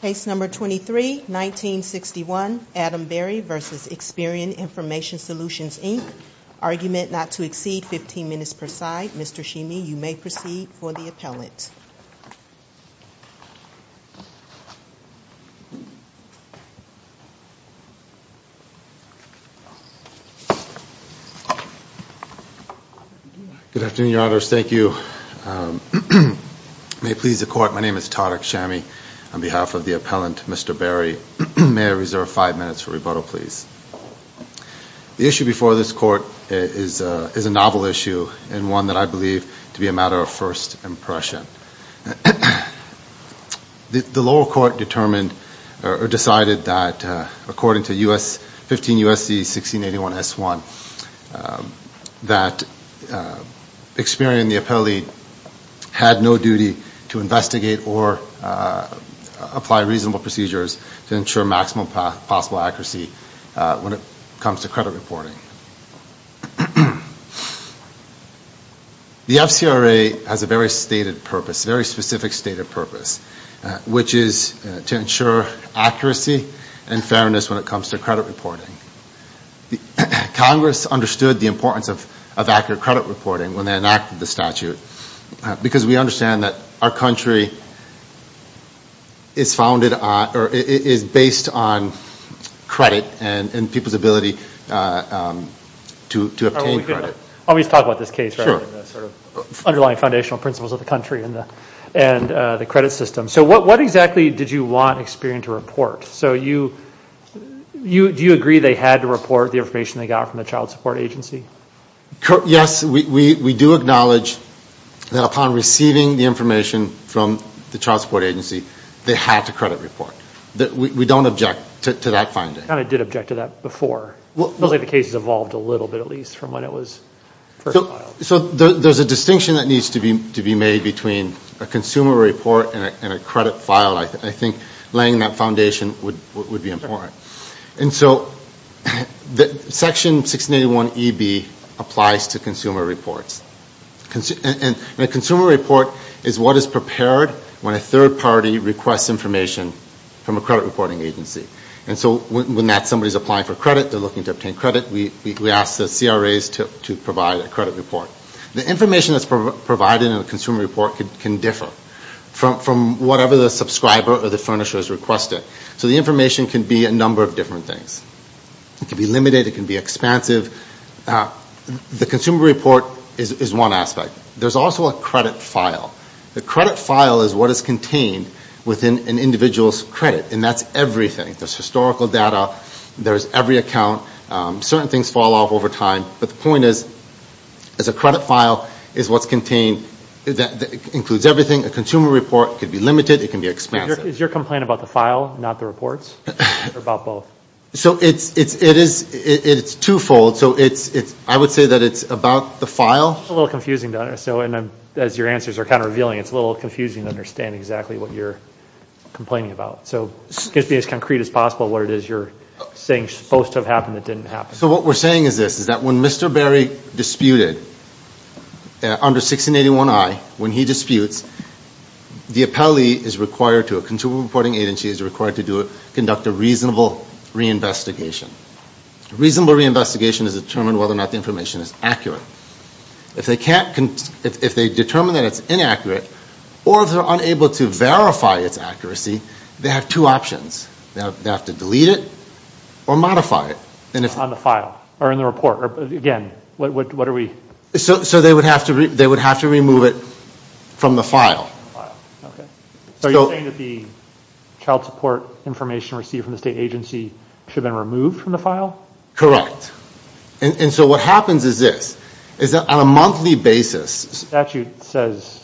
Case number 23-1961 Adam Berry v. Experian Information Solutions, Inc. Argument not to exceed 15 minutes per side. Mr. Shimi, you may proceed for the appellate. Good afternoon, Your Honors. Thank you. May it please the Court, my name is Tarek Shami. On behalf of the appellant, Mr. Berry, may I reserve five minutes for rebuttal, please? The issue before this Court is a novel issue and one that I believe to be a matter of first impression. The lower court decided that according to 15 U.S.C. 1681 S.1, that Experian, the appellee, had no duty to investigate or apply reasonable procedures to ensure maximum possible accuracy when it comes to credit reporting. The FCRA has a very stated purpose, a very specific stated purpose, which is to ensure accuracy and fairness when it comes to credit reporting. Congress understood the importance of accurate credit reporting when they enacted the statute because we understand that our country is based on credit and people's ability to obtain credit. Let's talk about this case rather than the underlying foundational principles of the country and the credit system. What exactly did you want Experian to report? Do you agree they had to report the information they got from the child support agency? Yes, we do acknowledge that upon receiving the information from the child support agency, they had to credit report. We don't object to that finding. I did object to that before. It looks like the case has evolved a little bit at least from when it was first filed. There's a distinction that needs to be made between a consumer report and a credit file. I think laying that foundation would be important. Section 1681EB applies to consumer reports. A consumer report is what is prepared when a third party requests information from a credit reporting agency. When that somebody is applying for credit, they are looking to obtain credit, we ask the CRAs to provide a credit report. The information that's provided in a consumer report can differ from whatever the subscriber or the furnisher has requested. So the information can be a number of different things. It can be limited, it can be expansive. The consumer report is one aspect. There's also a credit file. The credit file is what is contained within an individual's credit, and that's everything. There's historical data, there's every account. Certain things fall off over time, but the point is a credit file is what's contained. It includes everything. A consumer report can be limited, it can be expansive. Is your complaint about the file, not the reports, or about both? It's twofold. I would say that it's about the file. It's a little confusing to understand. As your answers are kind of revealing, it's a little confusing to understand exactly what you're complaining about. So just be as concrete as possible what it is you're saying is supposed to have happened that didn't happen. So what we're saying is this, is that when Mr. Berry disputed under 1681I, when he disputes, the appellee is required to, a consumer reporting agency is required to conduct a reasonable reinvestigation. A reasonable reinvestigation is to determine whether or not the information is accurate. If they determine that it's inaccurate, or if they're unable to verify its accuracy, they have two options. They have to delete it or modify it. On the file? Or in the report? Again, what are we... So they would have to remove it from the file. So are you saying that the child support information received from the state agency should have been removed from the file? Correct. And so what happens is this, is that on a monthly basis... The statute says...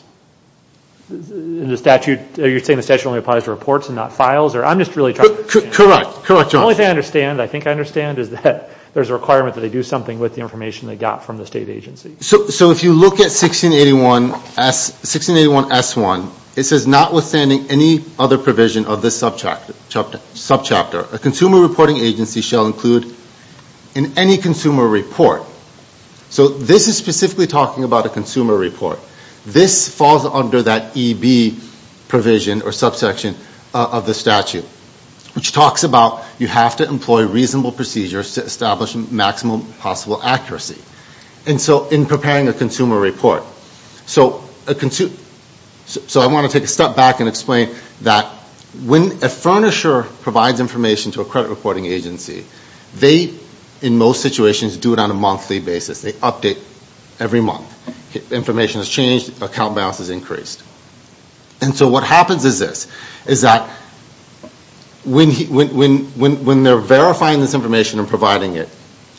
You're saying the statute only applies to reports and not files? Correct. The only thing I understand, I think I understand, is that there's a requirement that they do something with the information they got from the state agency. So if you look at 1681S1, it says, notwithstanding any other provision of this subchapter, a consumer reporting agency shall include in any consumer report. So this is specifically talking about a consumer report. This falls under that EB provision or subsection of the statute, which talks about you have to employ reasonable procedures to establish maximum possible accuracy in preparing a consumer report. So I want to take a step back and explain that when a furnisher provides information to a credit reporting agency, they, in most situations, do it on a monthly basis. They update every month. Information has changed, account balance has increased. And so what happens is this, is that when they're verifying this information and providing it,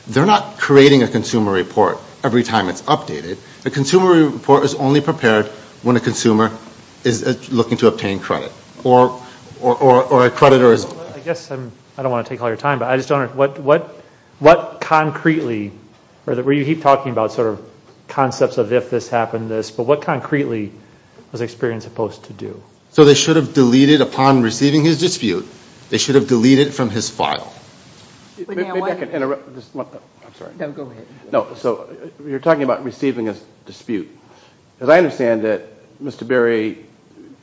they're not creating a consumer report every time it's updated. A consumer report is only prepared when a consumer is looking to obtain credit or a creditor is... I guess I don't want to take all your time, but I just wonder, what concretely, or you keep talking about sort of concepts of if this happened, this, but what concretely was Experian supposed to do? So they should have deleted upon receiving his dispute, they should have deleted from his file. May I interrupt? I'm sorry. No, go ahead. No, so you're talking about receiving a dispute. As I understand it, Mr. Berry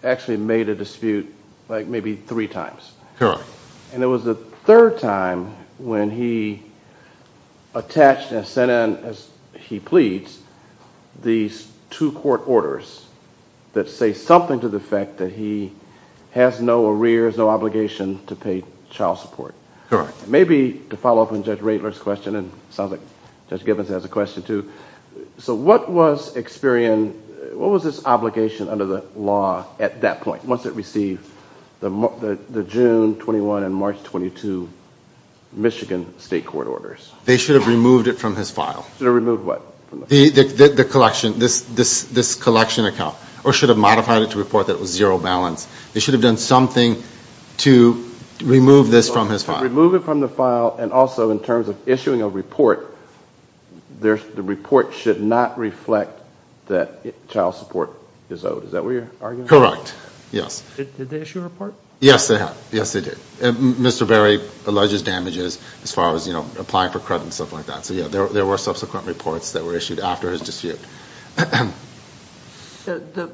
actually made a dispute like maybe three times. Correct. And it was the third time when he attached and sent in, as he pleads, these two court orders that say something to the effect that he has no arrears, no obligation to pay child support. Correct. Maybe to follow up on Judge Radler's question, and it sounds like Judge Gibbons has a question too, so what was Experian, what was his obligation under the law at that point, once it received the June 21 and March 22 Michigan state court orders? They should have removed it from his file. Should have removed what? The collection, this collection account, or should have modified it to report that it was zero balance. They should have done something to remove this from his file. Remove it from the file, and also in terms of issuing a report, the report should not reflect that child support is owed. Is that what you're arguing? Correct, yes. Did they issue a report? Yes, they have. Yes, they did. Mr. Berry alleges damages as far as applying for credit and stuff like that. There were subsequent reports that were issued after his dispute. To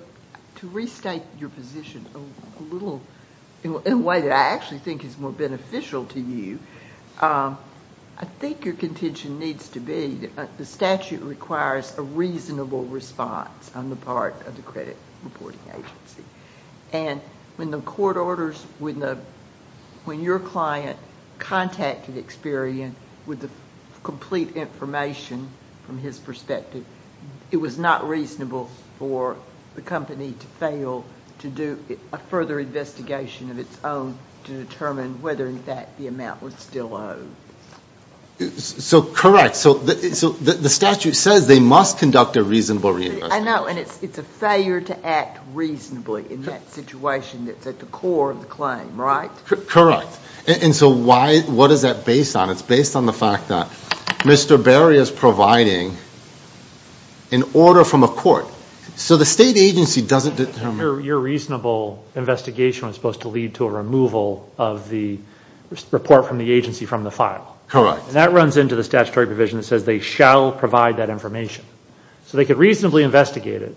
restate your position in a way that I actually think is more beneficial to you, I think your contention needs to be that the statute requires a reasonable response on the part of the credit reporting agency. When the court orders, when your client contacted Experian with the complete information from his perspective, it was not reasonable for the company to fail to do a further investigation of its own to determine whether in fact the amount was still owed. Correct. The statute says they must conduct a reasonable reinvestigation. I know, and it's a failure to act reasonably in that situation that's at the core of the claim, right? Correct. And so what is that based on? It's based on the fact that Mr. Berry is providing an order from a court. So the state agency doesn't determine- Your reasonable investigation was supposed to lead to a removal of the report from the agency from the file. Correct. And that runs into the statutory provision that says they shall provide that information. So they could reasonably investigate it.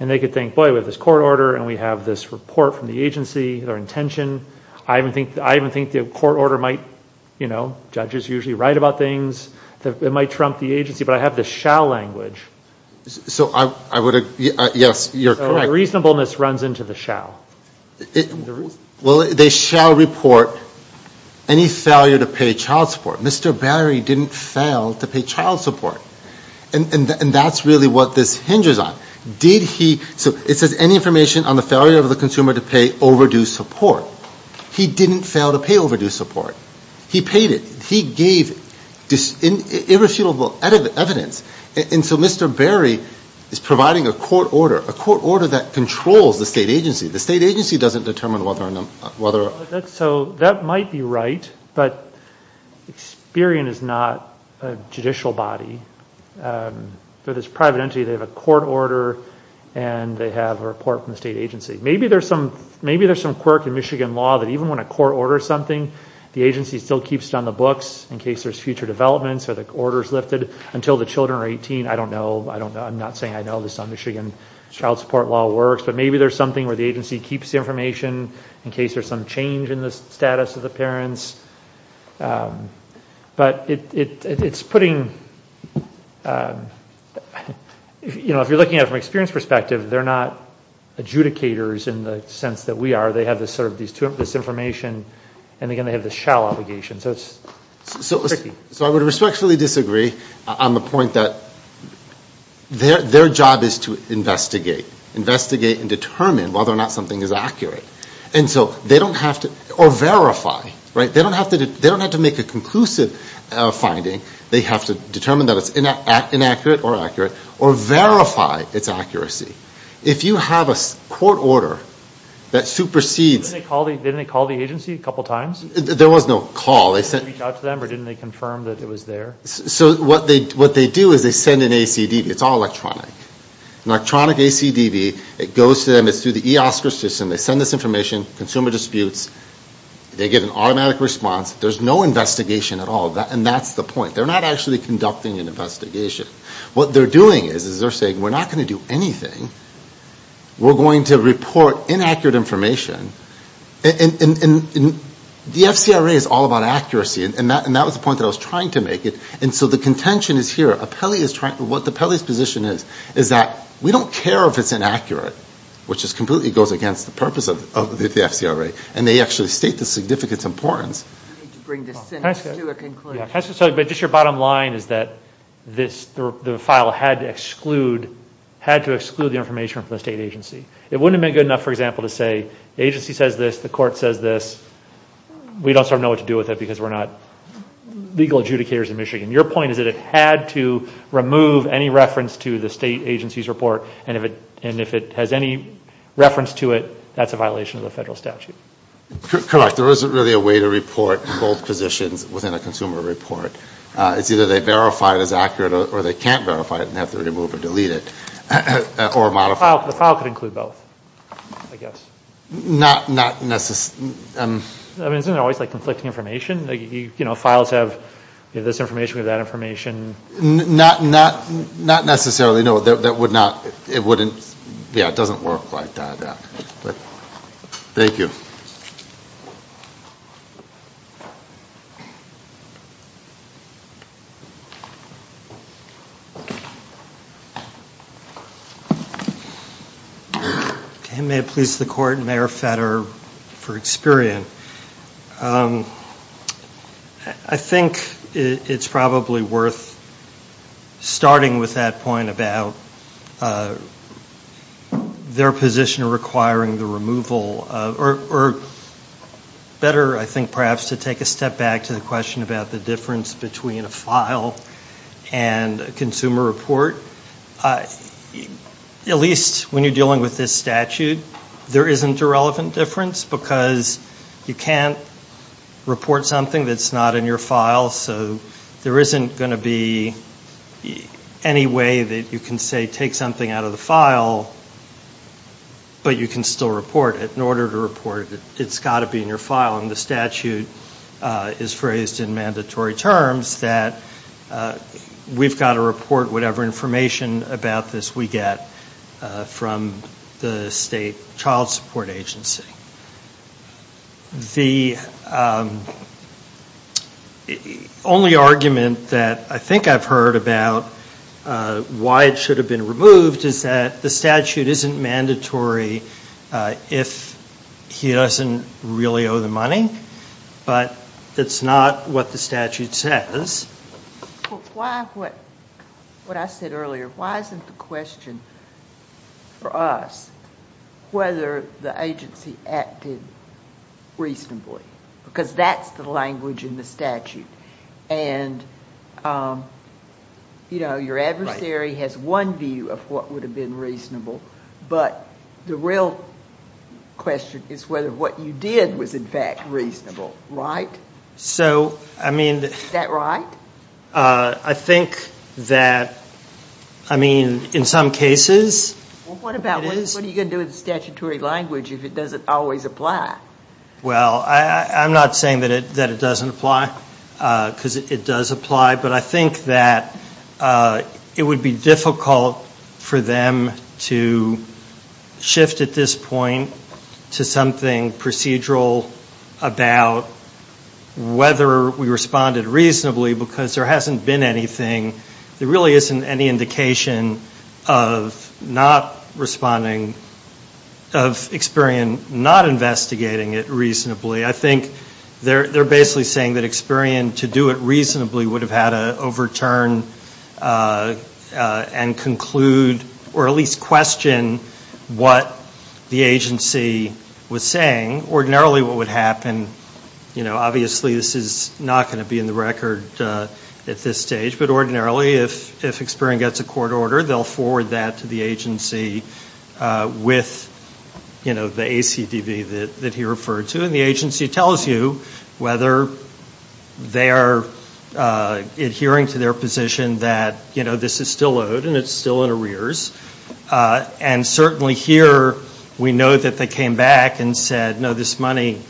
And they could think, boy, we have this court order and we have this report from the agency, their intention. I even think the court order might, you know, judges usually write about things that might trump the agency, but I have this shall language. So I would, yes, you're correct. So reasonableness runs into the shall. Well, they shall report any failure to pay child support. Mr. Berry didn't fail to pay child support. And that's really what this hinges on. Did he, so it says any information on the failure of the consumer to pay overdue support. He didn't fail to pay overdue support. He paid it. He gave irrefutable evidence. And so Mr. Berry is providing a court order, a court order that controls the state agency. The state agency doesn't determine whether- So that might be right, but Experian is not a judicial body. They're this private entity. They have a court order and they have a report from the state agency. Maybe there's some quirk in Michigan law that even when a court orders something, the agency still keeps it on the books in case there's future developments or the order's lifted until the children are 18. I don't know. I'm not saying I know this on Michigan child support law works. But maybe there's something where the agency keeps the information in case there's some change in the status of the parents. But it's putting, you know, if you're looking at it from Experian's perspective, they're not adjudicators in the sense that we are. They have this information and again, they have this shall obligation. So it's tricky. So I would respectfully disagree on the point that their job is to investigate. Investigate and determine whether or not something is accurate. And so they don't have to- or verify. They don't have to make a conclusive finding. They have to determine that it's inaccurate or accurate. Or verify its accuracy. If you have a court order that supersedes- Didn't they call the agency a couple times? There was no call. Didn't they reach out to them or didn't they confirm that it was there? So what they do is they send an ACD. It's all electronic. Electronic ACDV. It goes to them. It's through the eOscar system. They send this information. Consumer disputes. They get an automatic response. There's no investigation at all. And that's the point. They're not actually conducting an investigation. What they're doing is they're saying we're not going to do anything. We're going to report inaccurate information. And the FCRA is all about accuracy. And that was the point that I was trying to make. And so the contention is here. What the Pelley's position is is that we don't care if it's inaccurate. Which just completely goes against the purpose of the FCRA. And they actually state the significance importance. I need to bring this sentence to a conclusion. Just your bottom line is that the file had to exclude the information from the state agency. It wouldn't have been good enough, for example, to say the agency says this. The court says this. We don't know what to do with it because we're not legal adjudicators in Michigan. Your point is that it had to remove any reference to the state agency's report. And if it has any reference to it, that's a violation of the federal statute. Correct. There isn't really a way to report both positions within a consumer report. It's either they verify it as accurate or they can't verify it and have to remove or delete it. Or modify it. The file could include both, I guess. Not necessarily. I mean, isn't it always like conflicting information? You know, files have this information, we have that information. Not necessarily, no. That would not. It wouldn't. Yeah, it doesn't work like that. Thank you. May it please the court, Mayor Fetter for Experian. I think it's probably worth starting with that point about their position requiring the removal. Or better, I think, perhaps to take a step back to the question about the difference between a file and a consumer report. At least when you're dealing with this statute, there isn't a relevant difference. Because you can't report something that's not in your file. So there isn't going to be any way that you can say take something out of the file, but you can still report it. In order to report it, it's got to be in your file. And the statute is phrased in mandatory terms that we've got to report whatever information about this we get from the state child support agency. The only argument that I think I've heard about why it should have been removed is that the statute isn't mandatory if he doesn't really owe the money. But that's not what the statute says. Why, what I said earlier, why isn't the question for us whether the agency acted reasonably? Because that's the language in the statute. And, you know, your adversary has one view of what would have been reasonable. But the real question is whether what you did was in fact reasonable, right? So, I mean... Is that right? I think that, I mean, in some cases... Well, what about, what are you going to do with the statutory language if it doesn't always apply? Well, I'm not saying that it doesn't apply, because it does apply. But I think that it would be difficult for them to shift at this point to something procedural about whether we responded reasonably, because there hasn't been anything. There really isn't any indication of not responding, of Experian not investigating it reasonably. I think they're basically saying that Experian, to do it reasonably, would have had to overturn and conclude, or at least question, what the agency was saying. Ordinarily, what would happen, you know, obviously this is not going to be in the record at this stage. But ordinarily, if Experian gets a court order, they'll forward that to the agency with, you know, the ACDB that he referred to. And the agency tells you whether they are adhering to their position that, you know, this is still owed and it's still in arrears. And certainly here, we know that they came back and said, no, this money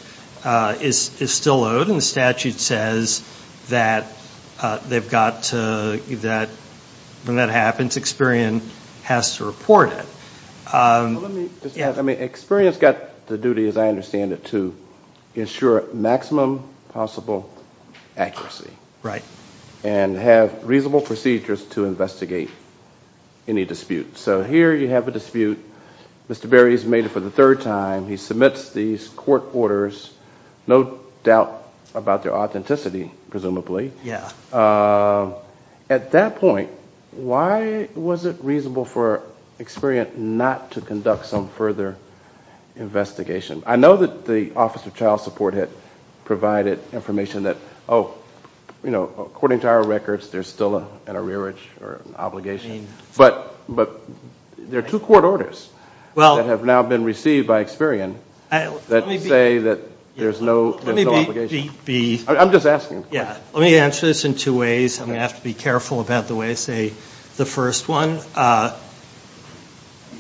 is still owed, and the statute says that they've got to, when that happens, Experian has to report it. Let me just add, I mean, Experian's got the duty, as I understand it, to ensure maximum possible accuracy. And have reasonable procedures to investigate any dispute. So here you have a dispute, Mr. Berry's made it for the third time, he submits these court orders, no doubt about their authenticity, presumably. Yeah. At that point, why was it reasonable for Experian not to conduct some further investigation? I know that the Office of Child Support had provided information that, oh, you know, according to our records, there's still an arrearage or obligation. But there are two court orders that have now been received by Experian that say that there's no obligation. I'm just asking. Yeah, let me answer this in two ways. I'm going to have to be careful about the way I say the first one.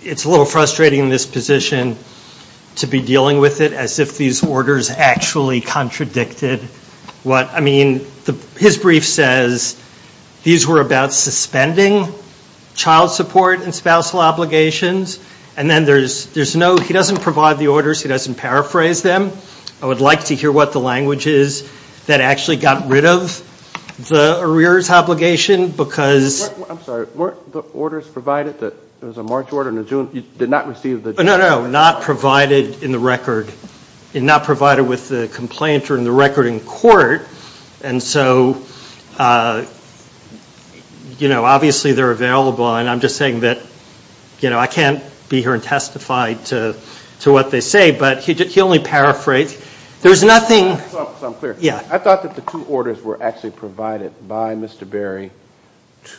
It's a little frustrating in this position to be dealing with it as if these orders actually contradicted what, I mean, his brief says these were about suspending child support and spousal obligations. And then there's no, he doesn't provide the orders, he doesn't paraphrase them. I would like to hear what the language is that actually got rid of the arrears obligation, because... I'm sorry, weren't the orders provided that there was a March order and a June, you did not receive the... No, no, no, not provided in the record. Not provided with the complaint or in the record in court. And so, you know, obviously they're available. And I'm just saying that, you know, I can't be here and testify to what they say. But he only paraphrased. There's nothing... So I'm clear. Yeah. I thought that the two orders were actually provided by Mr. Berry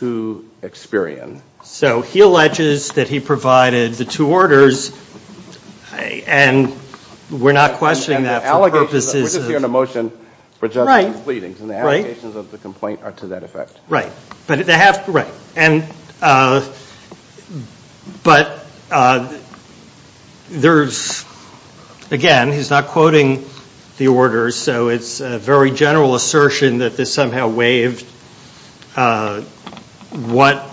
to Experian. So he alleges that he provided the two orders and we're not questioning that for purposes of... We're just hearing a motion for judgment and pleadings. And the allegations of the complaint are to that effect. Right. But they have... But there's, again, he's not quoting the orders, so it's a very general assertion that this somehow waived what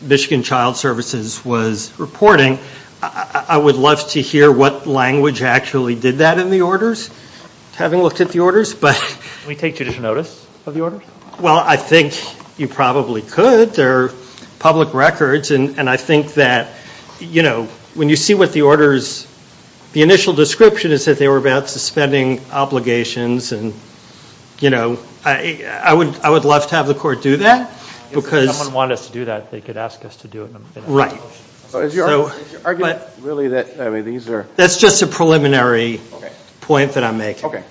Michigan Child Services was reporting. I would love to hear what language actually did that in the orders, having looked at the orders. Can we take judicial notice of the orders? Well, I think you probably could. They're public records. And I think that, you know, when you see what the orders... The initial description is that they were about suspending obligations. And, you know, I would love to have the court do that because... If someone wanted us to do that, they could ask us to do it. So is your argument really that, I mean, these are... That's just a preliminary point that I'm making. Okay.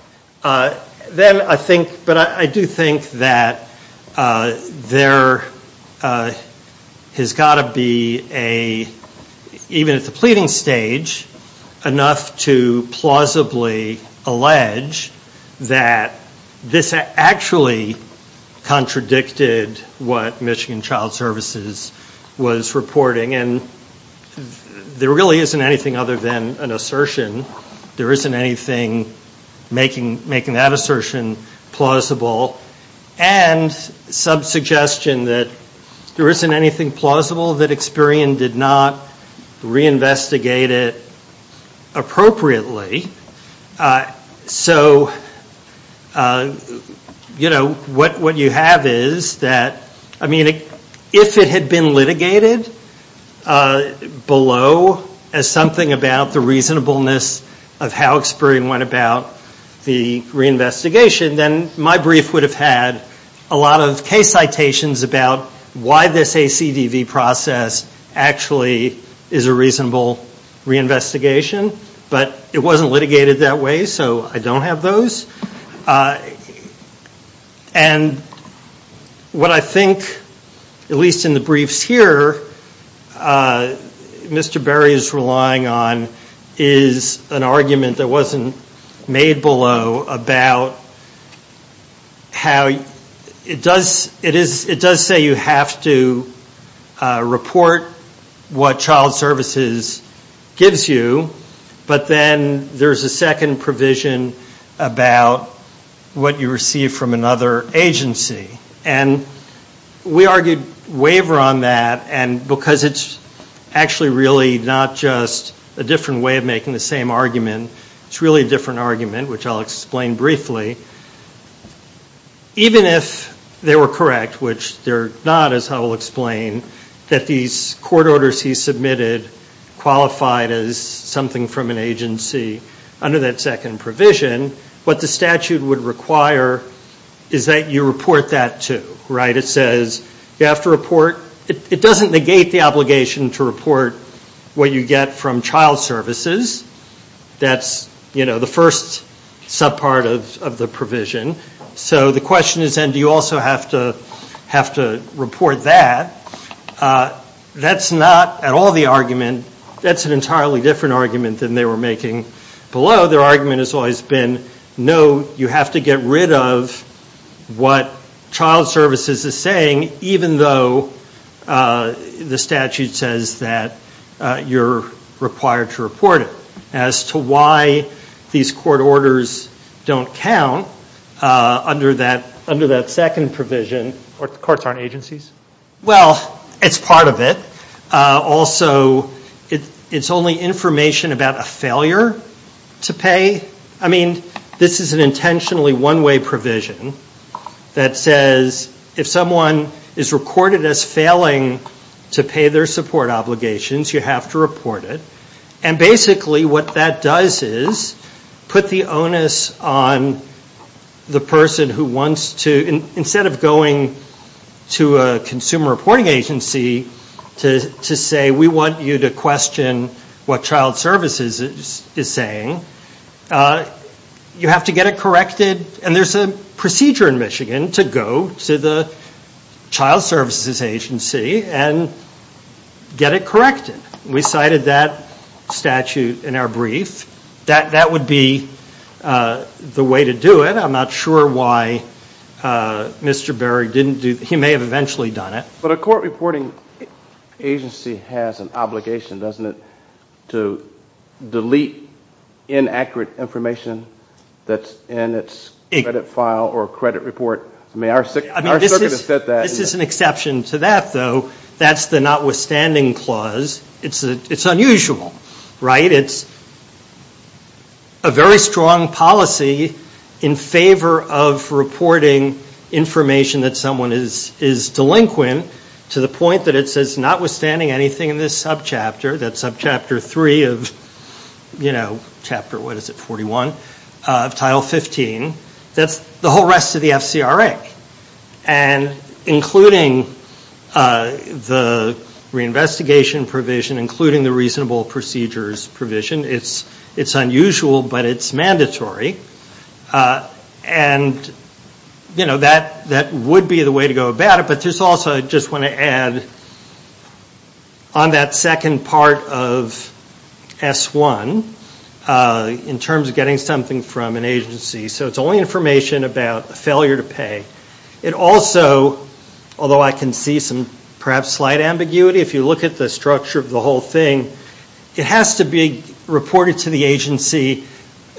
Then I think... But I do think that there has got to be a... Even at the pleading stage, enough to plausibly allege that this actually contradicted what Michigan Child Services was reporting. And there really isn't anything other than an assertion. There isn't anything making that assertion plausible. And some suggestion that there isn't anything plausible that Experian did not reinvestigate it appropriately. So, you know, what you have is that... I mean, if it had been litigated below as something about the reasonableness of how Experian went about the reinvestigation, then my brief would have had a lot of case citations about why this ACDV process actually is a reasonable reinvestigation. But it wasn't litigated that way, so I don't have those. And what I think, at least in the briefs here, Mr. Berry is relying on is an argument that wasn't made below about how it does say you have to report what Child Services gives you, but then there's a second provision about what you receive from another agency. And we argued waiver on that, and because it's actually really not just a different way of making the same argument, it's really a different argument, which I'll explain briefly. Even if they were correct, which they're not, as I will explain, that these court orders he submitted qualified as something from an agency under that second provision, what the statute would require is that you report that, too. It doesn't negate the obligation to report what you get from Child Services. That's the first subpart of the provision. So the question is, then, do you also have to report that? That's not at all the argument. That's an entirely different argument than they were making below. Their argument has always been, no, you have to get rid of what Child Services is saying, even though the statute says that you're required to report it. As to why these court orders don't count under that second provision... The courts aren't agencies? Well, it's part of it. Also, it's only information about a failure to pay. I mean, this is an intentionally one-way provision that says, if someone is recorded as failing to pay their support obligations, you have to report it. And basically what that does is put the onus on the person who wants to, instead of going to a consumer reporting agency to say, we want you to question what Child Services is saying, you have to get it corrected. And there's a procedure in Michigan to go to the Child Services agency and get it corrected. We cited that statute in our brief. That would be the way to do it. I'm not sure why Mr. Berig didn't do it. He may have eventually done it. But a court reporting agency has an obligation, doesn't it, to delete inaccurate information that's in its credit file or credit report. I mean, our circuit has said that. This is an exception to that, though. That's the notwithstanding clause. It's unusual, right? It's a very strong policy in favor of reporting information that someone is delinquent, to the point that it says, notwithstanding anything in this subchapter, that subchapter three of chapter 41 of Title 15, that's the whole rest of the FCRA. And including the reinvestigation provision, including the reasonable procedures provision, it's unusual but it's mandatory. And that would be the way to go about it. But I also just want to add, on that second part of S1, in terms of getting something from an agency, so it's only information about a failure to pay. It also, although I can see some perhaps slight ambiguity, if you look at the structure of the whole thing, it has to be reported to the agency,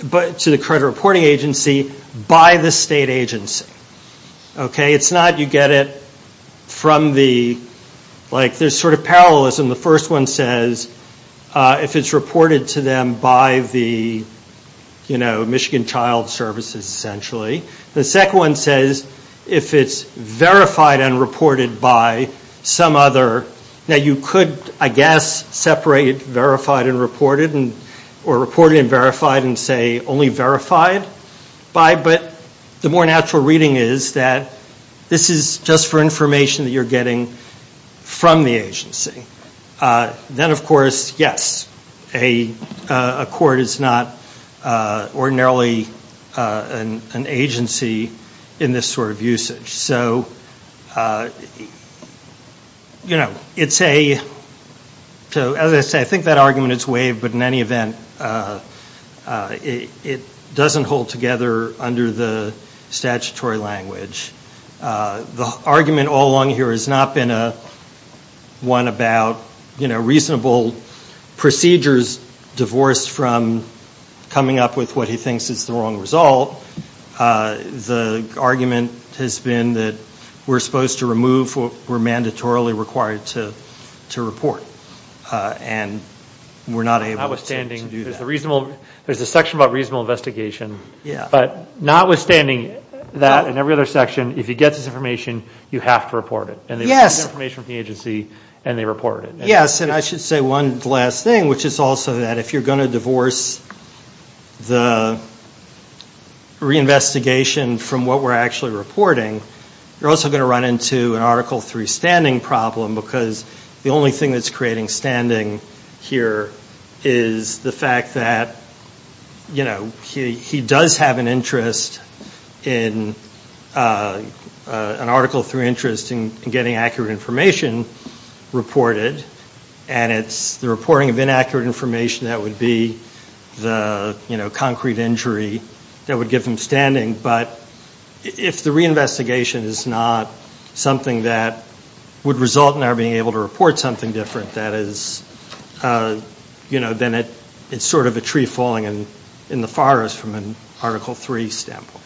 to the credit reporting agency, by the state agency. It's not, you get it from the, like there's sort of parallelism. The first one says, if it's reported to them by the, you know, Michigan Child Services, essentially. The second one says, if it's verified and reported by some other, now you could, I guess, separate verified and reported, or reported and verified and say only verified by, but the more natural reading is that this is just for information that you're getting from the agency. Then, of course, yes, a court is not ordinarily an agency in this sort of usage. So, you know, it's a, as I say, I think that argument is waived, but in any event, it doesn't hold together under the statutory language. The argument all along here has not been one about, you know, reasonable procedures divorced from coming up with what he thinks is the wrong result. The argument has been that we're supposed to remove what we're mandatorily required to report, and we're not able to do that. Notwithstanding, there's a section about reasonable investigation. Yeah. But notwithstanding that and every other section, if you get this information, you have to report it. Yes. And they get this information from the agency, and they report it. Yes, and I should say one last thing, which is also that if you're going to divorce the reinvestigation from what we're actually reporting, you're also going to run into an Article III standing problem, because the only thing that's creating standing here is the fact that, you know, he does have an interest in an Article III interest in getting accurate information reported, and it's the reporting of inaccurate information that would be the, you know, concrete injury that would give him standing. But if the reinvestigation is not something that would result in our being able to report something different, that is, you know, then it's sort of a tree falling in the forest from an Article III standpoint.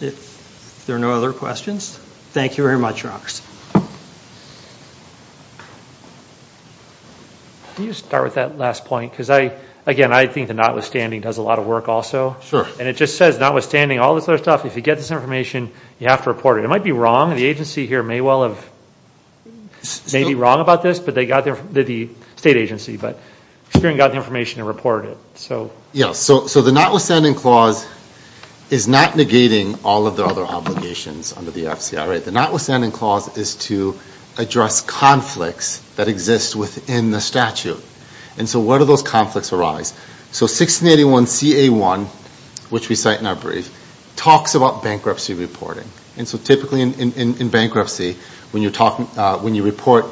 If there are no other questions, thank you very much, Rox. Can you start with that last point? Because I, again, I think the notwithstanding does a lot of work also. Sure. And it just says, notwithstanding all this other stuff, if you get this information, you have to report it. It might be wrong. The agency here may well have, may be wrong about this, but they got their, the state agency, but got the information and reported it. So. Yes. So the notwithstanding clause is not negating all of the other obligations under the FCRA. The notwithstanding clause is to address conflicts that exist within the statute. And so where do those conflicts arise? So 1681 CA1, which we cite in our brief, talks about bankruptcy reporting. And so typically in bankruptcy, when you're talking, when you report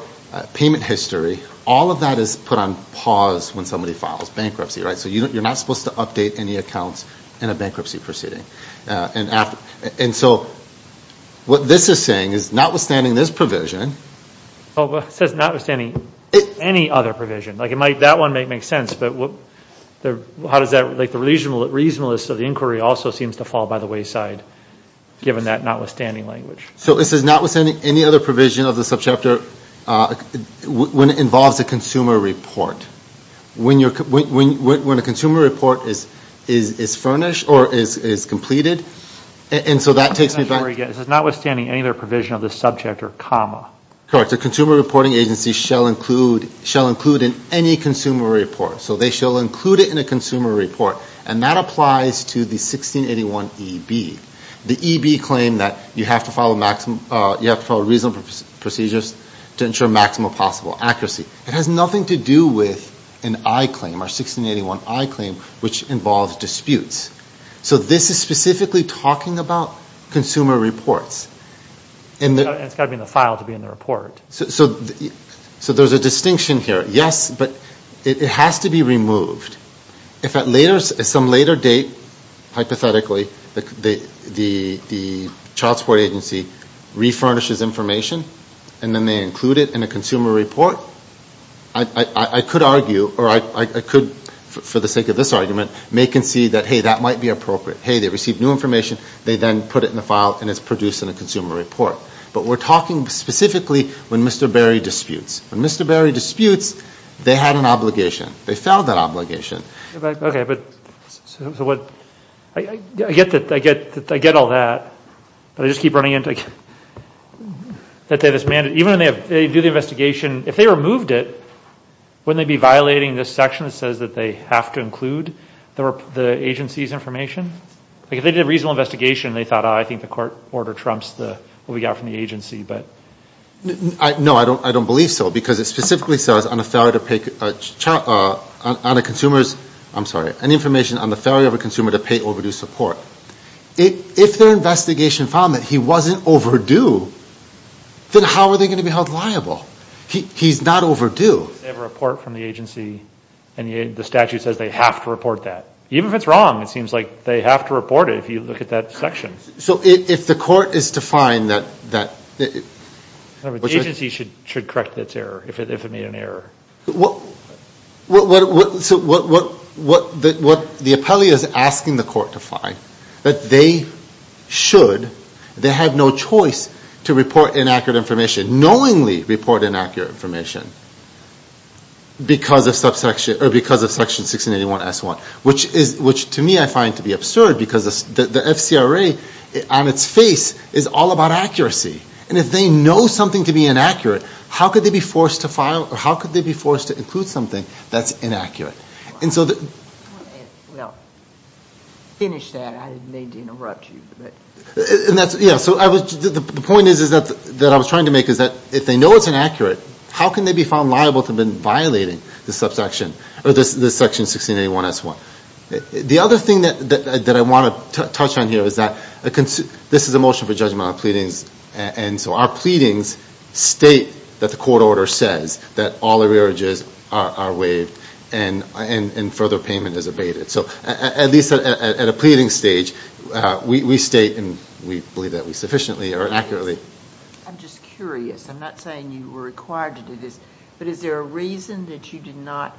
payment history, all of that is put on pause when somebody files bankruptcy, right? So you're not supposed to update any accounts in a bankruptcy proceeding. And so what this is saying is notwithstanding this provision. It says notwithstanding any other provision. Like it might, that one might make sense, but what, how does that, like the reasonableness of the inquiry also seems to fall by the wayside, given that notwithstanding language. So this is notwithstanding any other provision of the subchapter when it involves a consumer report. When a consumer report is furnished or is completed. And so that takes me back. This is notwithstanding any other provision of the subject or comma. Correct. A consumer reporting agency shall include in any consumer report. So they shall include it in a consumer report. And that applies to the 1681 EB. The EB claimed that you have to follow reasonable procedures to ensure maximum possible accuracy. It has nothing to do with an I claim, our 1681 I claim, which involves disputes. So this is specifically talking about consumer reports. And it's got to be in the file to be in the report. So there's a distinction here. Yes, but it has to be removed. If at some later date, hypothetically, the child support agency refurnishes information and then they include it in a consumer report, I could argue or I could, for the sake of this argument, make and see that, hey, that might be appropriate. Hey, they received new information. They then put it in the file and it's produced in a consumer report. But we're talking specifically when Mr. Berry disputes. When Mr. Berry disputes, they had an obligation. They felled that obligation. Okay, but I get all that. But I just keep running into it. Even when they do the investigation, if they removed it, wouldn't they be violating this section that says that they have to include the agency's information? If they did a reasonable investigation and they thought, oh, I think the court order trumps what we got from the agency. No, I don't believe so because it specifically says on the failure of a consumer to pay overdue support. If their investigation found that he wasn't overdue, then how are they going to be held liable? He's not overdue. They have a report from the agency and the statute says they have to report that. Even if it's wrong, it seems like they have to report it if you look at that section. So if the court is to find that. The agency should correct its error if it made an error. So what the appellee is asking the court to find, that they should, they have no choice to report inaccurate information, knowingly report inaccurate information, because of section 1681S1. Which to me I find to be absurd because the FCRA on its face is all about accuracy. And if they know something to be inaccurate, how could they be forced to file, or how could they be forced to include something that's inaccurate? Well, finish that. I didn't mean to interrupt you. The point that I was trying to make is that if they know it's inaccurate, how can they be found liable to have been violating this section 1681S1? The other thing that I want to touch on here is that this is a motion for judgment on pleadings. And so our pleadings state that the court order says that all arrearages are waived and further payment is abated. So at least at a pleading stage, we state and we believe that we sufficiently or accurately. I'm just curious. I'm not saying you were required to do this, but is there a reason that you did not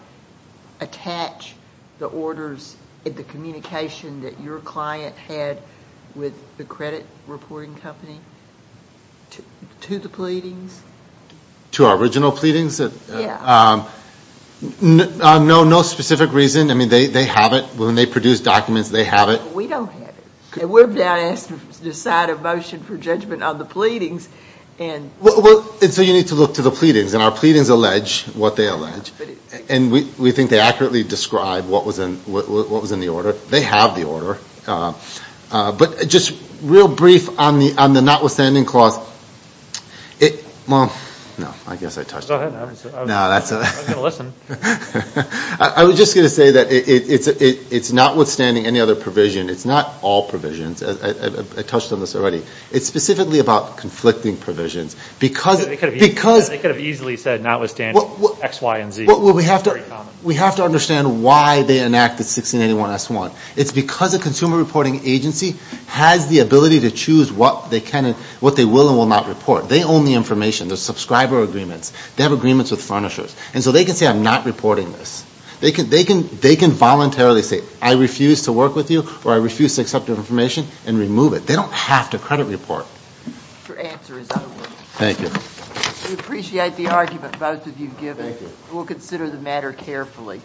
attach the orders, the communication that your client had with the credit reporting company to the pleadings? To our original pleadings? Yeah. No specific reason. I mean, they have it. When they produce documents, they have it. We don't have it. We're about to decide a motion for judgment on the pleadings. So you need to look to the pleadings, and our pleadings allege what they allege. And we think they accurately describe what was in the order. They have the order. But just real brief on the notwithstanding clause. Well, no, I guess I touched it. Go ahead. I'm going to listen. I was just going to say that it's notwithstanding any other provision. It's not all provisions. I touched on this already. It's specifically about conflicting provisions. They could have easily said notwithstanding X, Y, and Z. We have to understand why they enacted 1681S1. It's because a consumer reporting agency has the ability to choose what they can and what they will and will not report. They own the information. There's subscriber agreements. They have agreements with furnishers. And so they can say I'm not reporting this. They can voluntarily say I refuse to work with you or I refuse to accept your information and remove it. They don't have to credit report. Your answer is out of order. Thank you. We appreciate the argument both of you have given. We'll consider the matter carefully.